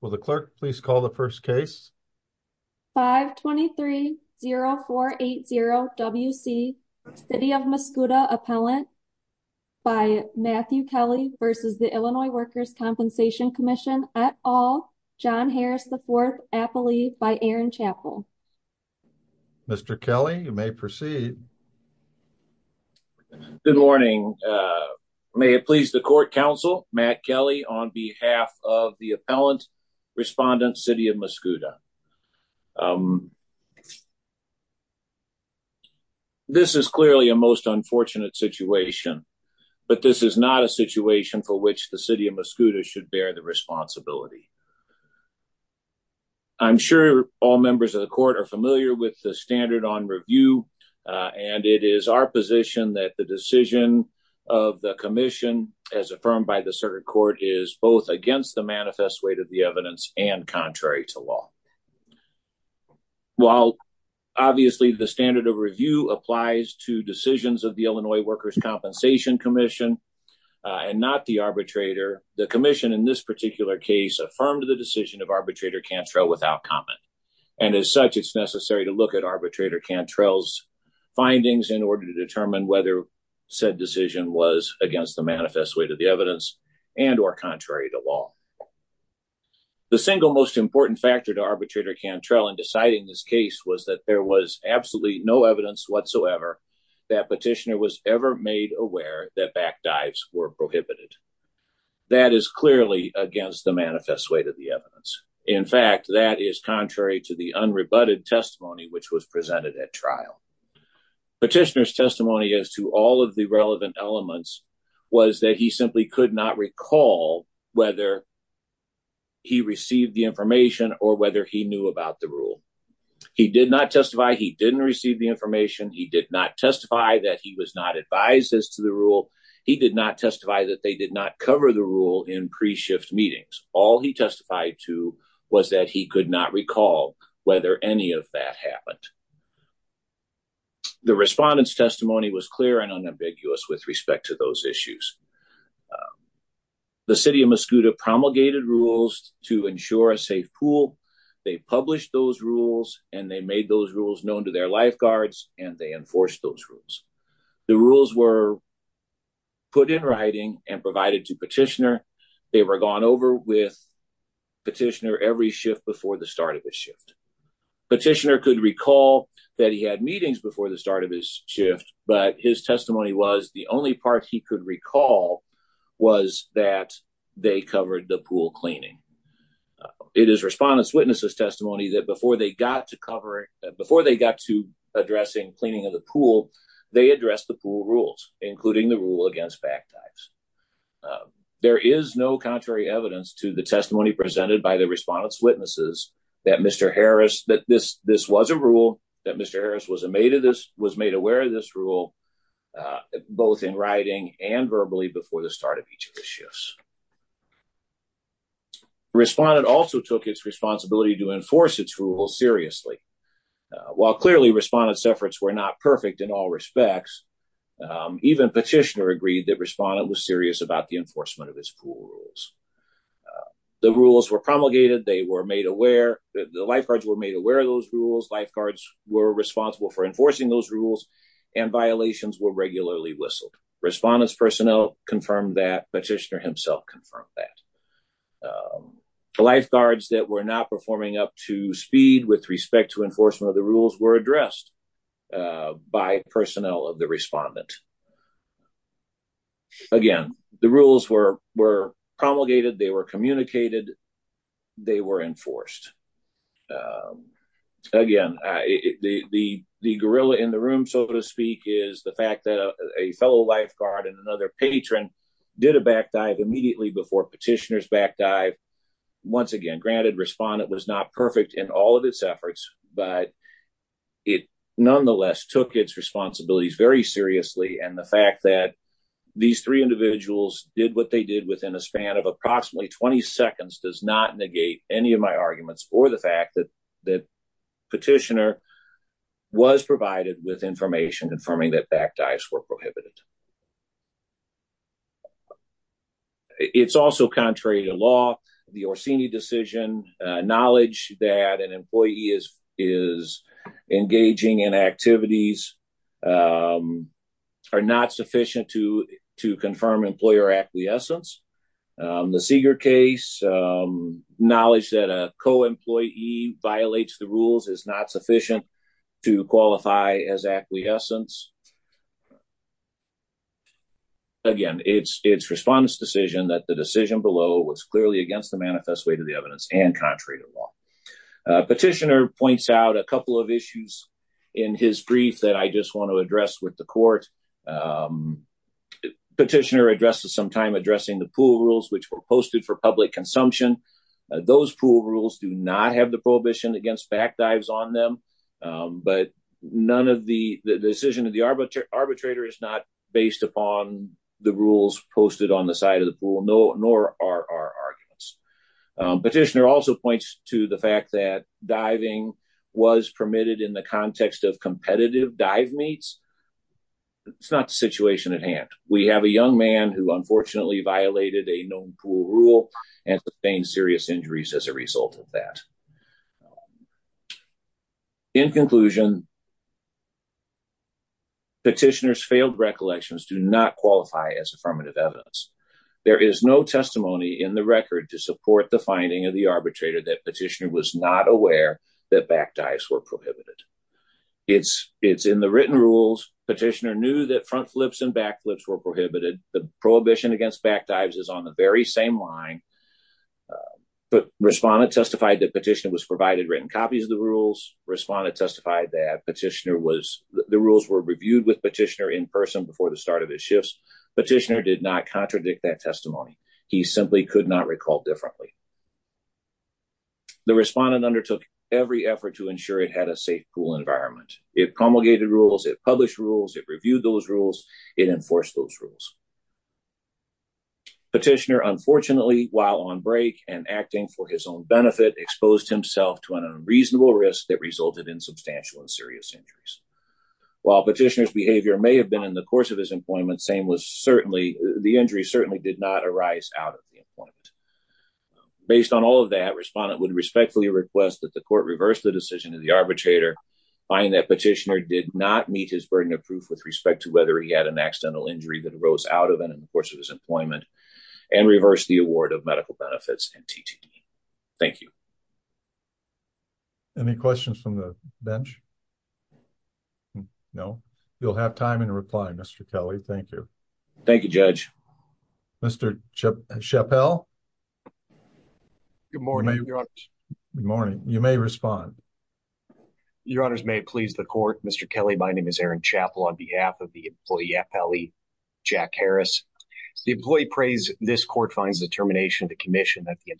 Will the clerk please call the first case? 523-0480-WC, City of Mascoutah Appellant by Matthew Kelly v. the Illinois Workers' Compensation Commission et al., John Harris IV, Appellee by Aaron Chappell. Mr. Kelly, you may proceed. Good morning. May it please the Court Counsel, Matt Kelly, on Respondent, City of Mascoutah. This is clearly a most unfortunate situation, but this is not a situation for which the City of Mascoutah should bear the responsibility. I'm sure all members of the Court are familiar with the Standard on Review, and it is our position that the decision of the Commission, as affirmed by the Circuit Court, is both against the manifest weight of the evidence and contrary to law. While obviously the Standard of Review applies to decisions of the Illinois Workers' Compensation Commission and not the arbitrator, the Commission, in this particular case, affirmed the decision of arbitrator Cantrell without comment. And as such, it's necessary to look at arbitrator Cantrell's findings in order to determine whether said decision was against the manifest weight of the evidence and or contrary to law. The single most important factor to arbitrator Cantrell in deciding this case was that there was absolutely no evidence whatsoever that Petitioner was ever made aware that back dives were prohibited. That is clearly against the manifest weight of the evidence. In fact, that is contrary to the unrebutted testimony, which was presented at trial. Petitioner's testimony as to all of the relevant elements was that he simply could not recall whether he received the information or whether he knew about the rule. He did not testify. He didn't receive the information. He did not testify that he was not advised as to the rule. He did not testify that they did not cover the rule in pre-shift meetings. All he testified to was that he could not recall whether any of that happened. The respondent's testimony was clear and unambiguous with respect to those issues. The city of Mascouda promulgated rules to ensure a safe pool. They published those rules and they made those rules known to their lifeguards and they enforced those rules. The rules were put in writing and provided to Petitioner. They were gone over with Petitioner every shift before the start of his shift. Petitioner could recall that he had meetings before the start of his shift, but his testimony was the only part he could recall was that they covered the pool cleaning. It is respondent's witness's testimony that before they got to addressing cleaning of the pool, they addressed the pool rules, including the rule against backdives. There is no contrary evidence to the testimony presented by the respondent's witnesses that this was a rule, that Mr. and verbally before the start of each of the shifts. Respondent also took its responsibility to enforce its rules seriously. While clearly respondent's efforts were not perfect in all respects, even Petitioner agreed that respondent was serious about the enforcement of his pool rules. The rules were promulgated. They were made aware that the lifeguards were made aware of those rules. Lifeguards were responsible for enforcing those rules and violations were regularly whistled. Respondent's personnel confirmed that, Petitioner himself confirmed that. The lifeguards that were not performing up to speed with respect to enforcement of the rules were addressed by personnel of the respondent. Again, the rules were promulgated. They were communicated. They were enforced. Again, the gorilla in the room, so to speak, is the fact that a fellow lifeguard and another patron did a backdive immediately before Petitioner's backdive, once again, granted respondent was not perfect in all of its efforts, but it nonetheless took its responsibilities very seriously and the fact that these three individuals did what they did within a span of approximately 20 seconds does not negate any of my arguments for the fact that Petitioner was provided with information confirming that backdives were prohibited. It's also contrary to law. The Orsini decision, knowledge that an employee is engaging in activities are not sufficient to confirm employer acquiescence. The Seeger case, knowledge that a co-employee violates the rules is not sufficient to qualify as acquiescence. Again, it's respondent's decision that the decision below was clearly against the manifest way to the evidence and contrary to law. Petitioner points out a couple of issues in his brief that I just want to address with the court. Petitioner addresses some time addressing the pool rules, which were posted for public consumption. Those pool rules do not have the prohibition against backdives on them, but the decision of the arbitrator is not based upon the rules posted on the side of the pool, nor are our arguments. Petitioner also points to the fact that diving was permitted in the context of competitive dive meets. It's not the situation at hand. We have a young man who unfortunately violated a known pool rule and sustained serious injuries as a result of that. In conclusion, petitioner's failed recollections do not qualify as affirmative evidence. There is no testimony in the record to support the finding of the arbitrator that petitioner was not aware that backdives were prohibited. It's in the written rules, petitioner knew that front flips and back flips were prohibited. The prohibition against backdives is on the very same line, but respondent testified that petitioner was provided written copies of the rules. Respondent testified that petitioner was, the rules were reviewed with petitioner in person before the start of his shifts, petitioner did not contradict that testimony. He simply could not recall differently. The respondent undertook every effort to ensure it had a safe pool environment. It promulgated rules, it published rules, it reviewed those rules, it enforced those rules. Petitioner, unfortunately, while on break and acting for his own benefit, exposed himself to an unreasonable risk that resulted in substantial and serious injuries. While petitioner's behavior may have been in the course of his employment, same was certainly, the injury certainly did not arise out of the employment. Based on all of that, respondent would respectfully request that the court reverse the decision of the arbitrator, find that petitioner did not meet his burden of proof with respect to whether he had an accidental injury that arose out of it in the course of his employment and reverse the award of medical benefits and TTD. Thank you. Any questions from the bench? No, you'll have time in reply, Mr. Kelly. Thank you. Thank you, judge. Mr. Chappell. Good morning, your honor. Good morning. You may respond. Your honors may please the court. Mr. Kelly, my name is Aaron Chappell on behalf of the employee FLE, Jack Harris. The employee prays this court finds the termination of the commission that the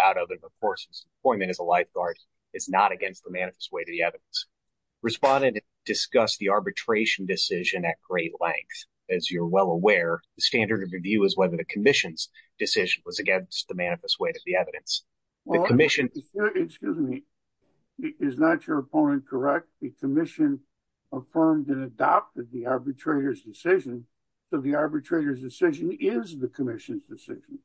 out of it, of course, employment is a lifeguard. It's not against the manifest way to the evidence. Respondent discussed the arbitration decision at great length. As you're well aware, the standard of review is whether the commission's decision was against the manifest way to the evidence. Well, the commission, excuse me, is not your opponent. Correct. The commission affirmed and adopted the arbitrator's decision. So the arbitrator's decision is the commission's decision.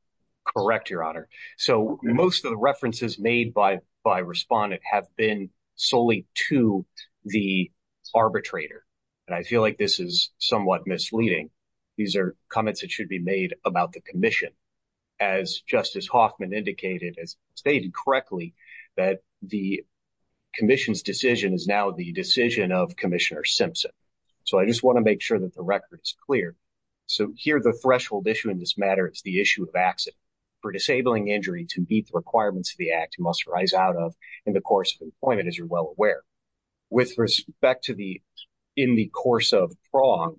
Correct. Your honor. So most of the references made by, by respondent have been solely to the arbitrator. And I feel like this is somewhat misleading. These are comments that should be made about the commission. As justice Hoffman indicated, as stated correctly, that the commission's decision is now the decision of commissioner Simpson. So I just want to make sure that the record is clear. So here, the threshold issue in this matter, it's the issue of accident. For disabling injury to meet the requirements of the act, you must rise out of in the course of employment, as you're well aware. With respect to the, in the course of prong,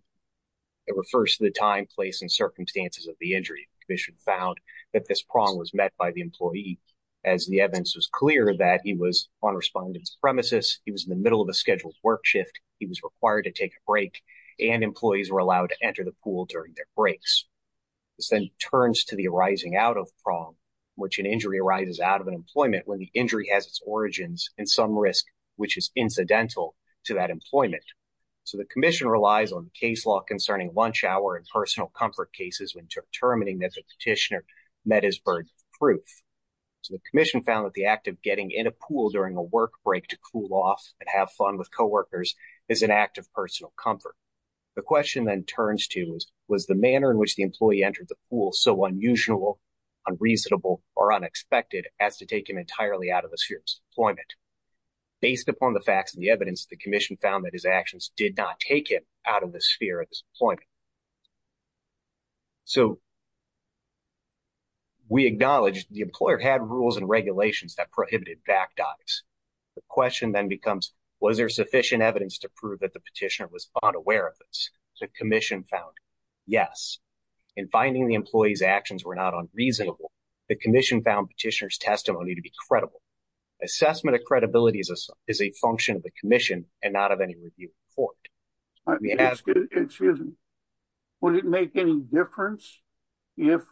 it refers to the time, place, and circumstances of the injury. The commission found that this prong was met by the employee as the evidence was clear that he was on respondent's premises. He was in the middle of a scheduled work shift. He was required to take a break and employees were allowed to enter the pool during their breaks. This then turns to the arising out of prong, which an injury arises out of an employment when the injury has its origins and some risk, which is incidental to that employment. So the commission relies on the case law concerning lunch hour and personal comfort cases when determining that the petitioner met his burden of proof. So the commission found that the act of getting in a pool during a work break to cool off and have fun with coworkers is an act of personal comfort. The question then turns to was, was the manner in which the employee entered the pool so unusual, unreasonable, or unexpected as to take him entirely out of the sphere of his employment based upon the facts and the evidence the commission found that his actions did not take him out of the sphere of his employment. So we acknowledge the employer had rules and regulations that prohibited back dives. The question then becomes, was there sufficient evidence to prove that the petitioner was unaware of this? The commission found yes. In finding the employee's actions were not unreasonable. The commission found petitioner's testimony to be credible. Assessment of credibility is a function of the commission and not of any review of the court. Excuse me. Would it make any difference if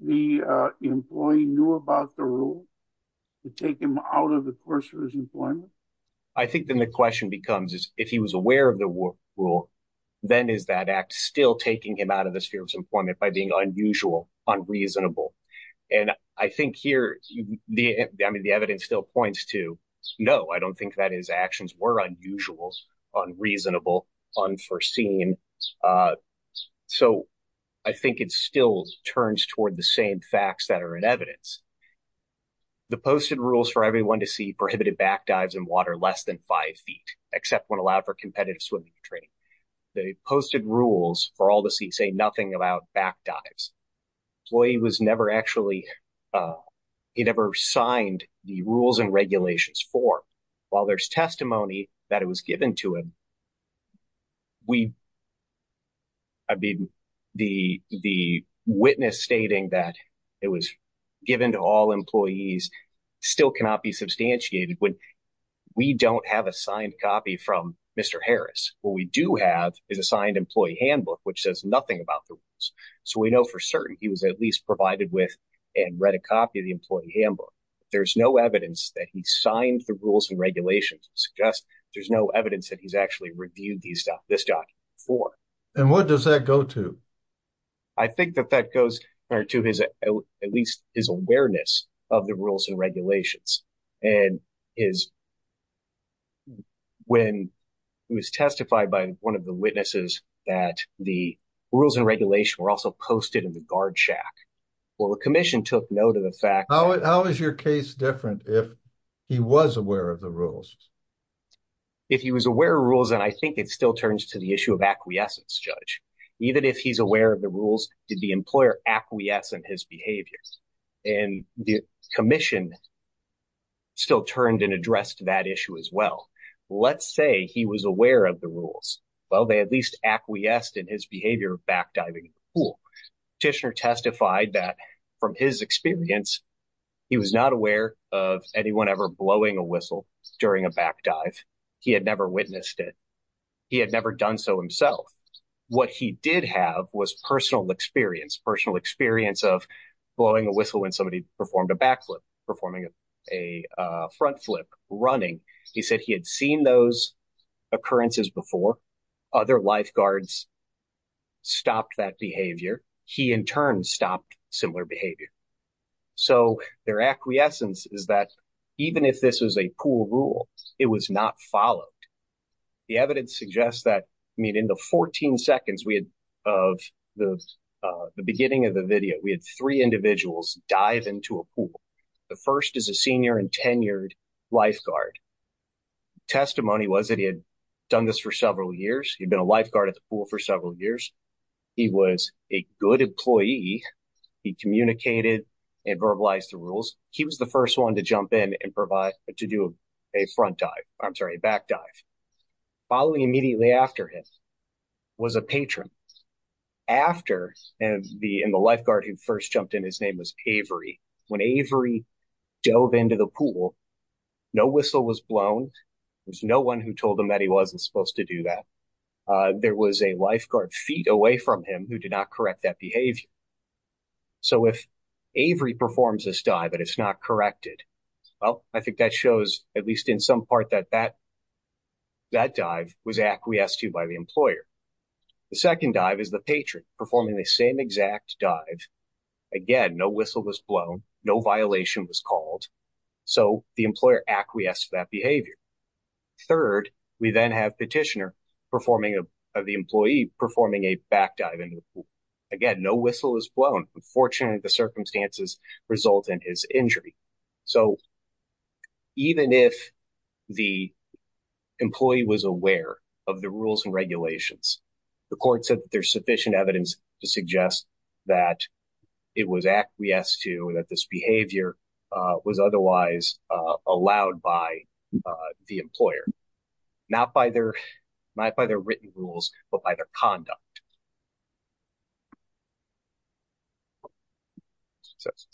the employee knew about the rule to take him out of the course of his employment? I think then the question becomes, is if he was aware of the rule, then is that act still taking him out of the sphere of his employment by being unusual, unreasonable? And I think here, I mean, the evidence still points to, no, I don't think that his actions were unusual, unreasonable, unforeseen, so I think it still turns toward the same facts that are in evidence, the posted rules for everyone to see prohibited back dives in water less than five feet, except when allowed for competitive swimming training. They posted rules for all to see, say nothing about back dives. Employee was never actually, he never signed the rules and regulations for while there's testimony that it was given to him, I mean, the witness stating that it was given to all employees still cannot be substantiated when we don't have a signed copy from Mr. Harris, what we do have is a signed employee handbook, which says nothing about the rules. So we know for certain he was at least provided with and read a copy of the employee handbook. There's no evidence that he signed the rules and regulations. It suggests there's no evidence that he's actually reviewed these stuff, this doc for. And what does that go to? I think that that goes to his, at least his awareness of the rules and regulations and is when he was testified by one of the witnesses that the rules and regulation were also posted in the guard shack. Well, the commission took note of the fact, how is your case different? If he was aware of the rules, if he was aware of rules, and I think it still turns to the issue of acquiescence judge, even if he's aware of the rules, did the employer acquiesce in his behaviors and the commission still turned and addressed that issue as well. Let's say he was aware of the rules. Well, they at least acquiesced in his behavior of backdiving pool. Tishner testified that from his experience, he was not aware of anyone ever blowing a whistle during a backdive. He had never witnessed it. He had never done so himself. What he did have was personal experience, personal experience of blowing a whistle when somebody performed a backflip, performing a front flip running. He said he had seen those occurrences before other lifeguards stopped that behavior, he in turn stopped similar behavior. So their acquiescence is that even if this was a pool rule, it was not followed. The evidence suggests that, I mean, in the 14 seconds of the beginning of the video, we had three individuals dive into a pool, the first is a senior and tenured lifeguard. Testimony was that he had done this for several years. He'd been a lifeguard at the pool for several years. He was a good employee. He communicated and verbalized the rules. He was the first one to jump in and provide, to do a front dive, I'm sorry, a backdive, following immediately after him was a patron. After, and the lifeguard who first jumped in, his name was Avery. When Avery dove into the pool, no whistle was blown. There's no one who told him that he wasn't supposed to do that. There was a lifeguard feet away from him who did not correct that behavior. So if Avery performs this dive, but it's not corrected, well, I think that shows at least in some part that that dive was acquiesced to by the employer. The second dive is the patron performing the same exact dive. Again, no whistle was blown. No violation was called. So the employer acquiesced to that behavior. Third, we then have petitioner performing of the employee performing a backdive into the pool. Again, no whistle was blown. Unfortunately, the circumstances result in his injury. So even if the employee was aware of the rules and regulations, the court said that there's sufficient evidence to suggest that it was acquiesced to, that this behavior was otherwise allowed by the employer, not by their written rules, but by their conduct.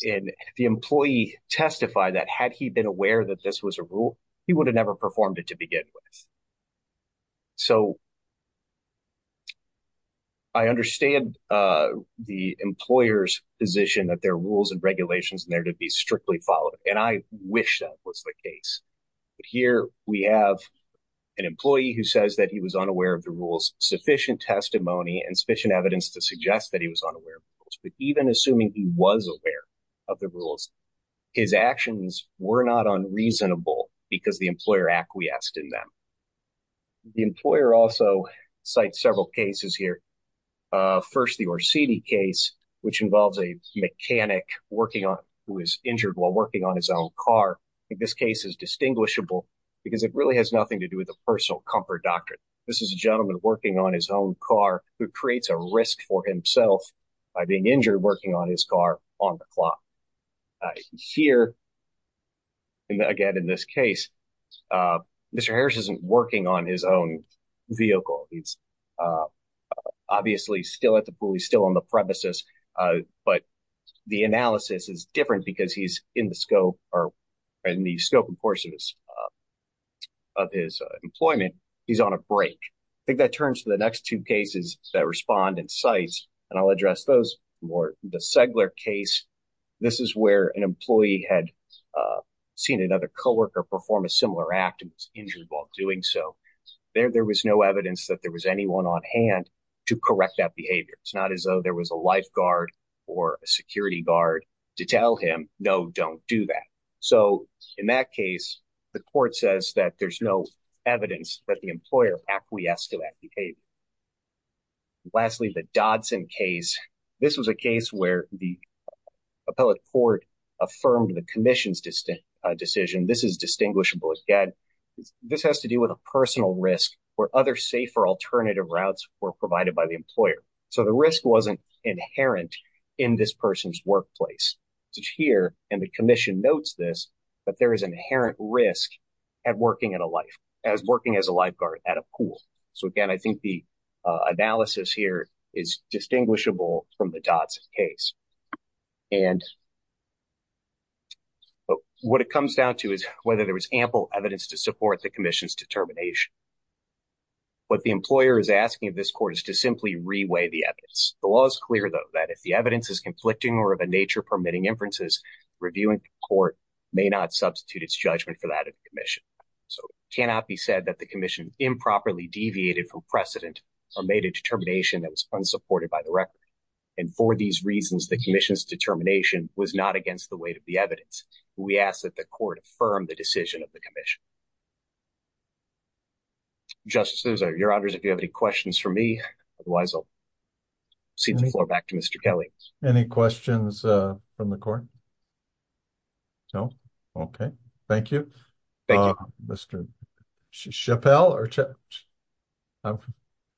And the employee testified that had he been aware that this was a rule, he would have never performed it to begin with. So I understand the employer's position that there are rules and regulations in there to be strictly followed. And I wish that was the case. But here we have an employee who says that he was unaware of the rules, sufficient testimony, and sufficient evidence to suggest that he was unaware of the rules, but even assuming he was aware of the rules, his actions were not unreasonable because the employer acquiesced in them. The employer also cites several cases here. First, the Orsini case, which involves a mechanic who was injured while working on his own car. I think this case is distinguishable because it really has nothing to do with a personal comfort doctrine. This is a gentleman working on his own car who creates a risk for himself by being injured working on his car on the clock. Here, again, in this case, Mr. Harris isn't working on his own vehicle. He's obviously still at the pool. He's still on the premises. But the analysis is different because he's in the scope, or in the scope and course of his employment. He's on a break. I think that turns to the next two cases that respond and cite, and I'll address those more, the Segler case. This is where an employee had seen another coworker perform a similar act and was injured while doing so. There was no evidence that there was anyone on hand to correct that behavior. It's not as though there was a lifeguard or a security guard to tell him, no, don't do that. In that case, the court says that there's no evidence that the employer acquiesced to that behavior. Lastly, the Dodson case. This was a case where the appellate court affirmed the commission's decision. This is distinguishable again. This has to do with a personal risk where other safer alternative routes were provided by the employer. The risk wasn't inherent in this person's workplace. It's here, and the commission notes this, but there is an inherent risk at working as a lifeguard at a pool. Again, I think the analysis here is distinguishable from the Dodson case. What it comes down to is whether there was ample evidence to support the commission's determination. What the employer is asking of this court is to simply reweigh the evidence. The law is clear though, that if the evidence is conflicting or of a nature permitting inferences, reviewing the court may not substitute its judgment for that of the commission. It cannot be said that the commission improperly deviated from precedent or made a determination that was unsupported by the record. For these reasons, the commission's determination was not against the weight of the evidence. We ask that the court affirm the decision of the commission. Justice Sousa, Your Honors, if you have any questions for me, otherwise I'll cede the floor back to Mr. Kelly. Any questions from the court? No. Okay. Thank you. Mr. Chappell or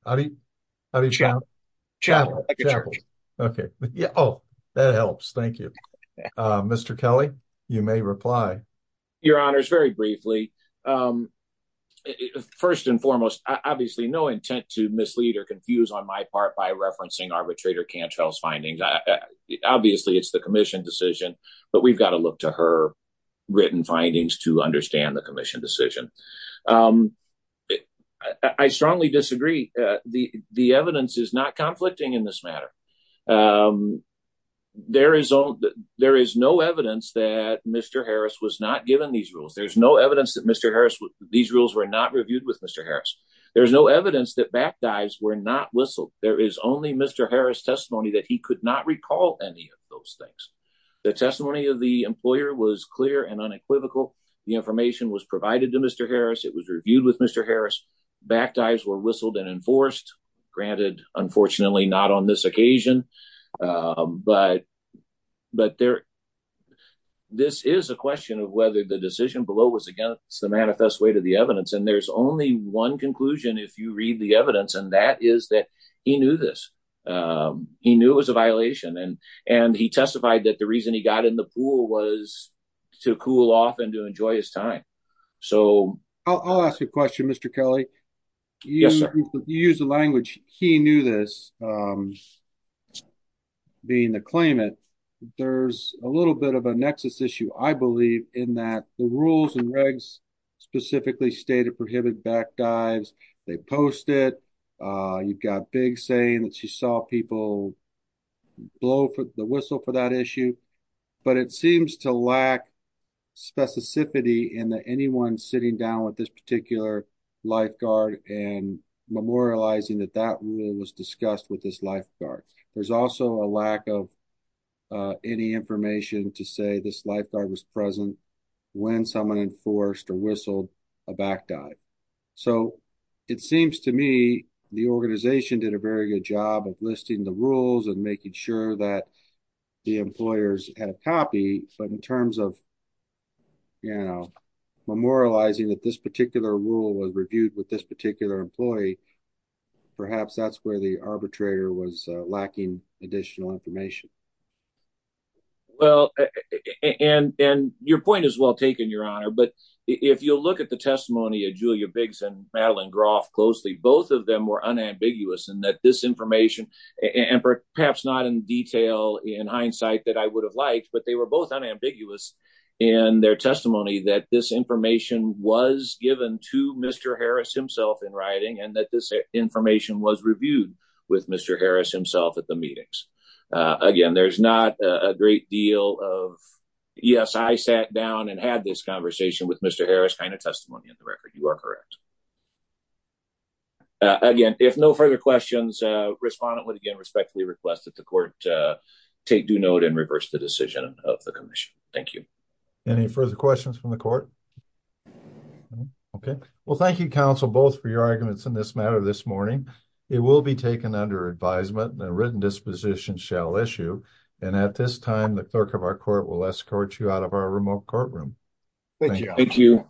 how do you, how do you, okay. Oh, that helps. Thank you, Mr. Kelly. You may reply. Your Honors, very briefly. referencing arbitrator Cantrell's findings. Obviously it's the commission decision, but we've got to look to her written findings to understand the commission decision. I strongly disagree. The evidence is not conflicting in this matter. There is no evidence that Mr. Harris was not given these rules. There's no evidence that Mr. Harris, these rules were not reviewed with Mr. Harris. There's no evidence that back dives were not whistled. There is only Mr. Harris testimony that he could not recall any of those things. The testimony of the employer was clear and unequivocal. The information was provided to Mr. Harris. It was reviewed with Mr. Harris. Back dives were whistled and enforced granted, unfortunately not on this occasion, but, but there, this is a question of whether the decision below was against the manifest way to the evidence. And there's only one conclusion if you read the evidence. And that is that he knew this, um, he knew it was a violation and, and he testified that the reason he got in the pool was to cool off and to enjoy his time. So I'll ask you a question, Mr. Kelly, you use the language. He knew this, um, being the claimant, there's a little bit of a nexus issue. I believe in that the rules and regs specifically stated prohibit back dives. They post it. Uh, you've got big saying that you saw people blow for the whistle for that issue, but it seems to lack specificity in the, anyone sitting down with this particular lifeguard and memorializing that that was discussed with this lifeguard. There's also a lack of, uh, any information to say this lifeguard was present when someone enforced or whistled a back dive. So it seems to me the organization did a very good job of listing the rules and making sure that the employers had a copy, but in terms of, you know, memorializing that this particular rule was reviewed with this particular employee, perhaps that's where the arbitrator was lacking additional information. Well, and, and your point is well taken your honor. But if you'll look at the testimony of Julia Biggs and Madeline Groff closely, both of them were unambiguous in that this information and perhaps not in detail in hindsight that I would have liked, but they were both unambiguous in their testimony that this information was given to Mr. Harris himself in writing and that this information was reviewed with Mr. Harris himself at the meetings. Uh, again, there's not a great deal of, yes, I sat down and had this conversation with Mr. Harris kind of testimony in the record. You are correct. Uh, again, if no further questions, uh, respondent would again, respectfully request that the court, uh, take due note and reverse the decision of the commission. Thank you. Any further questions from the court? Okay. Well, thank you counsel, both for your arguments in this matter. This morning, it will be taken under advisement and a written disposition shall issue, and at this time, the clerk of our court will escort you out of our remote courtroom. Thank you.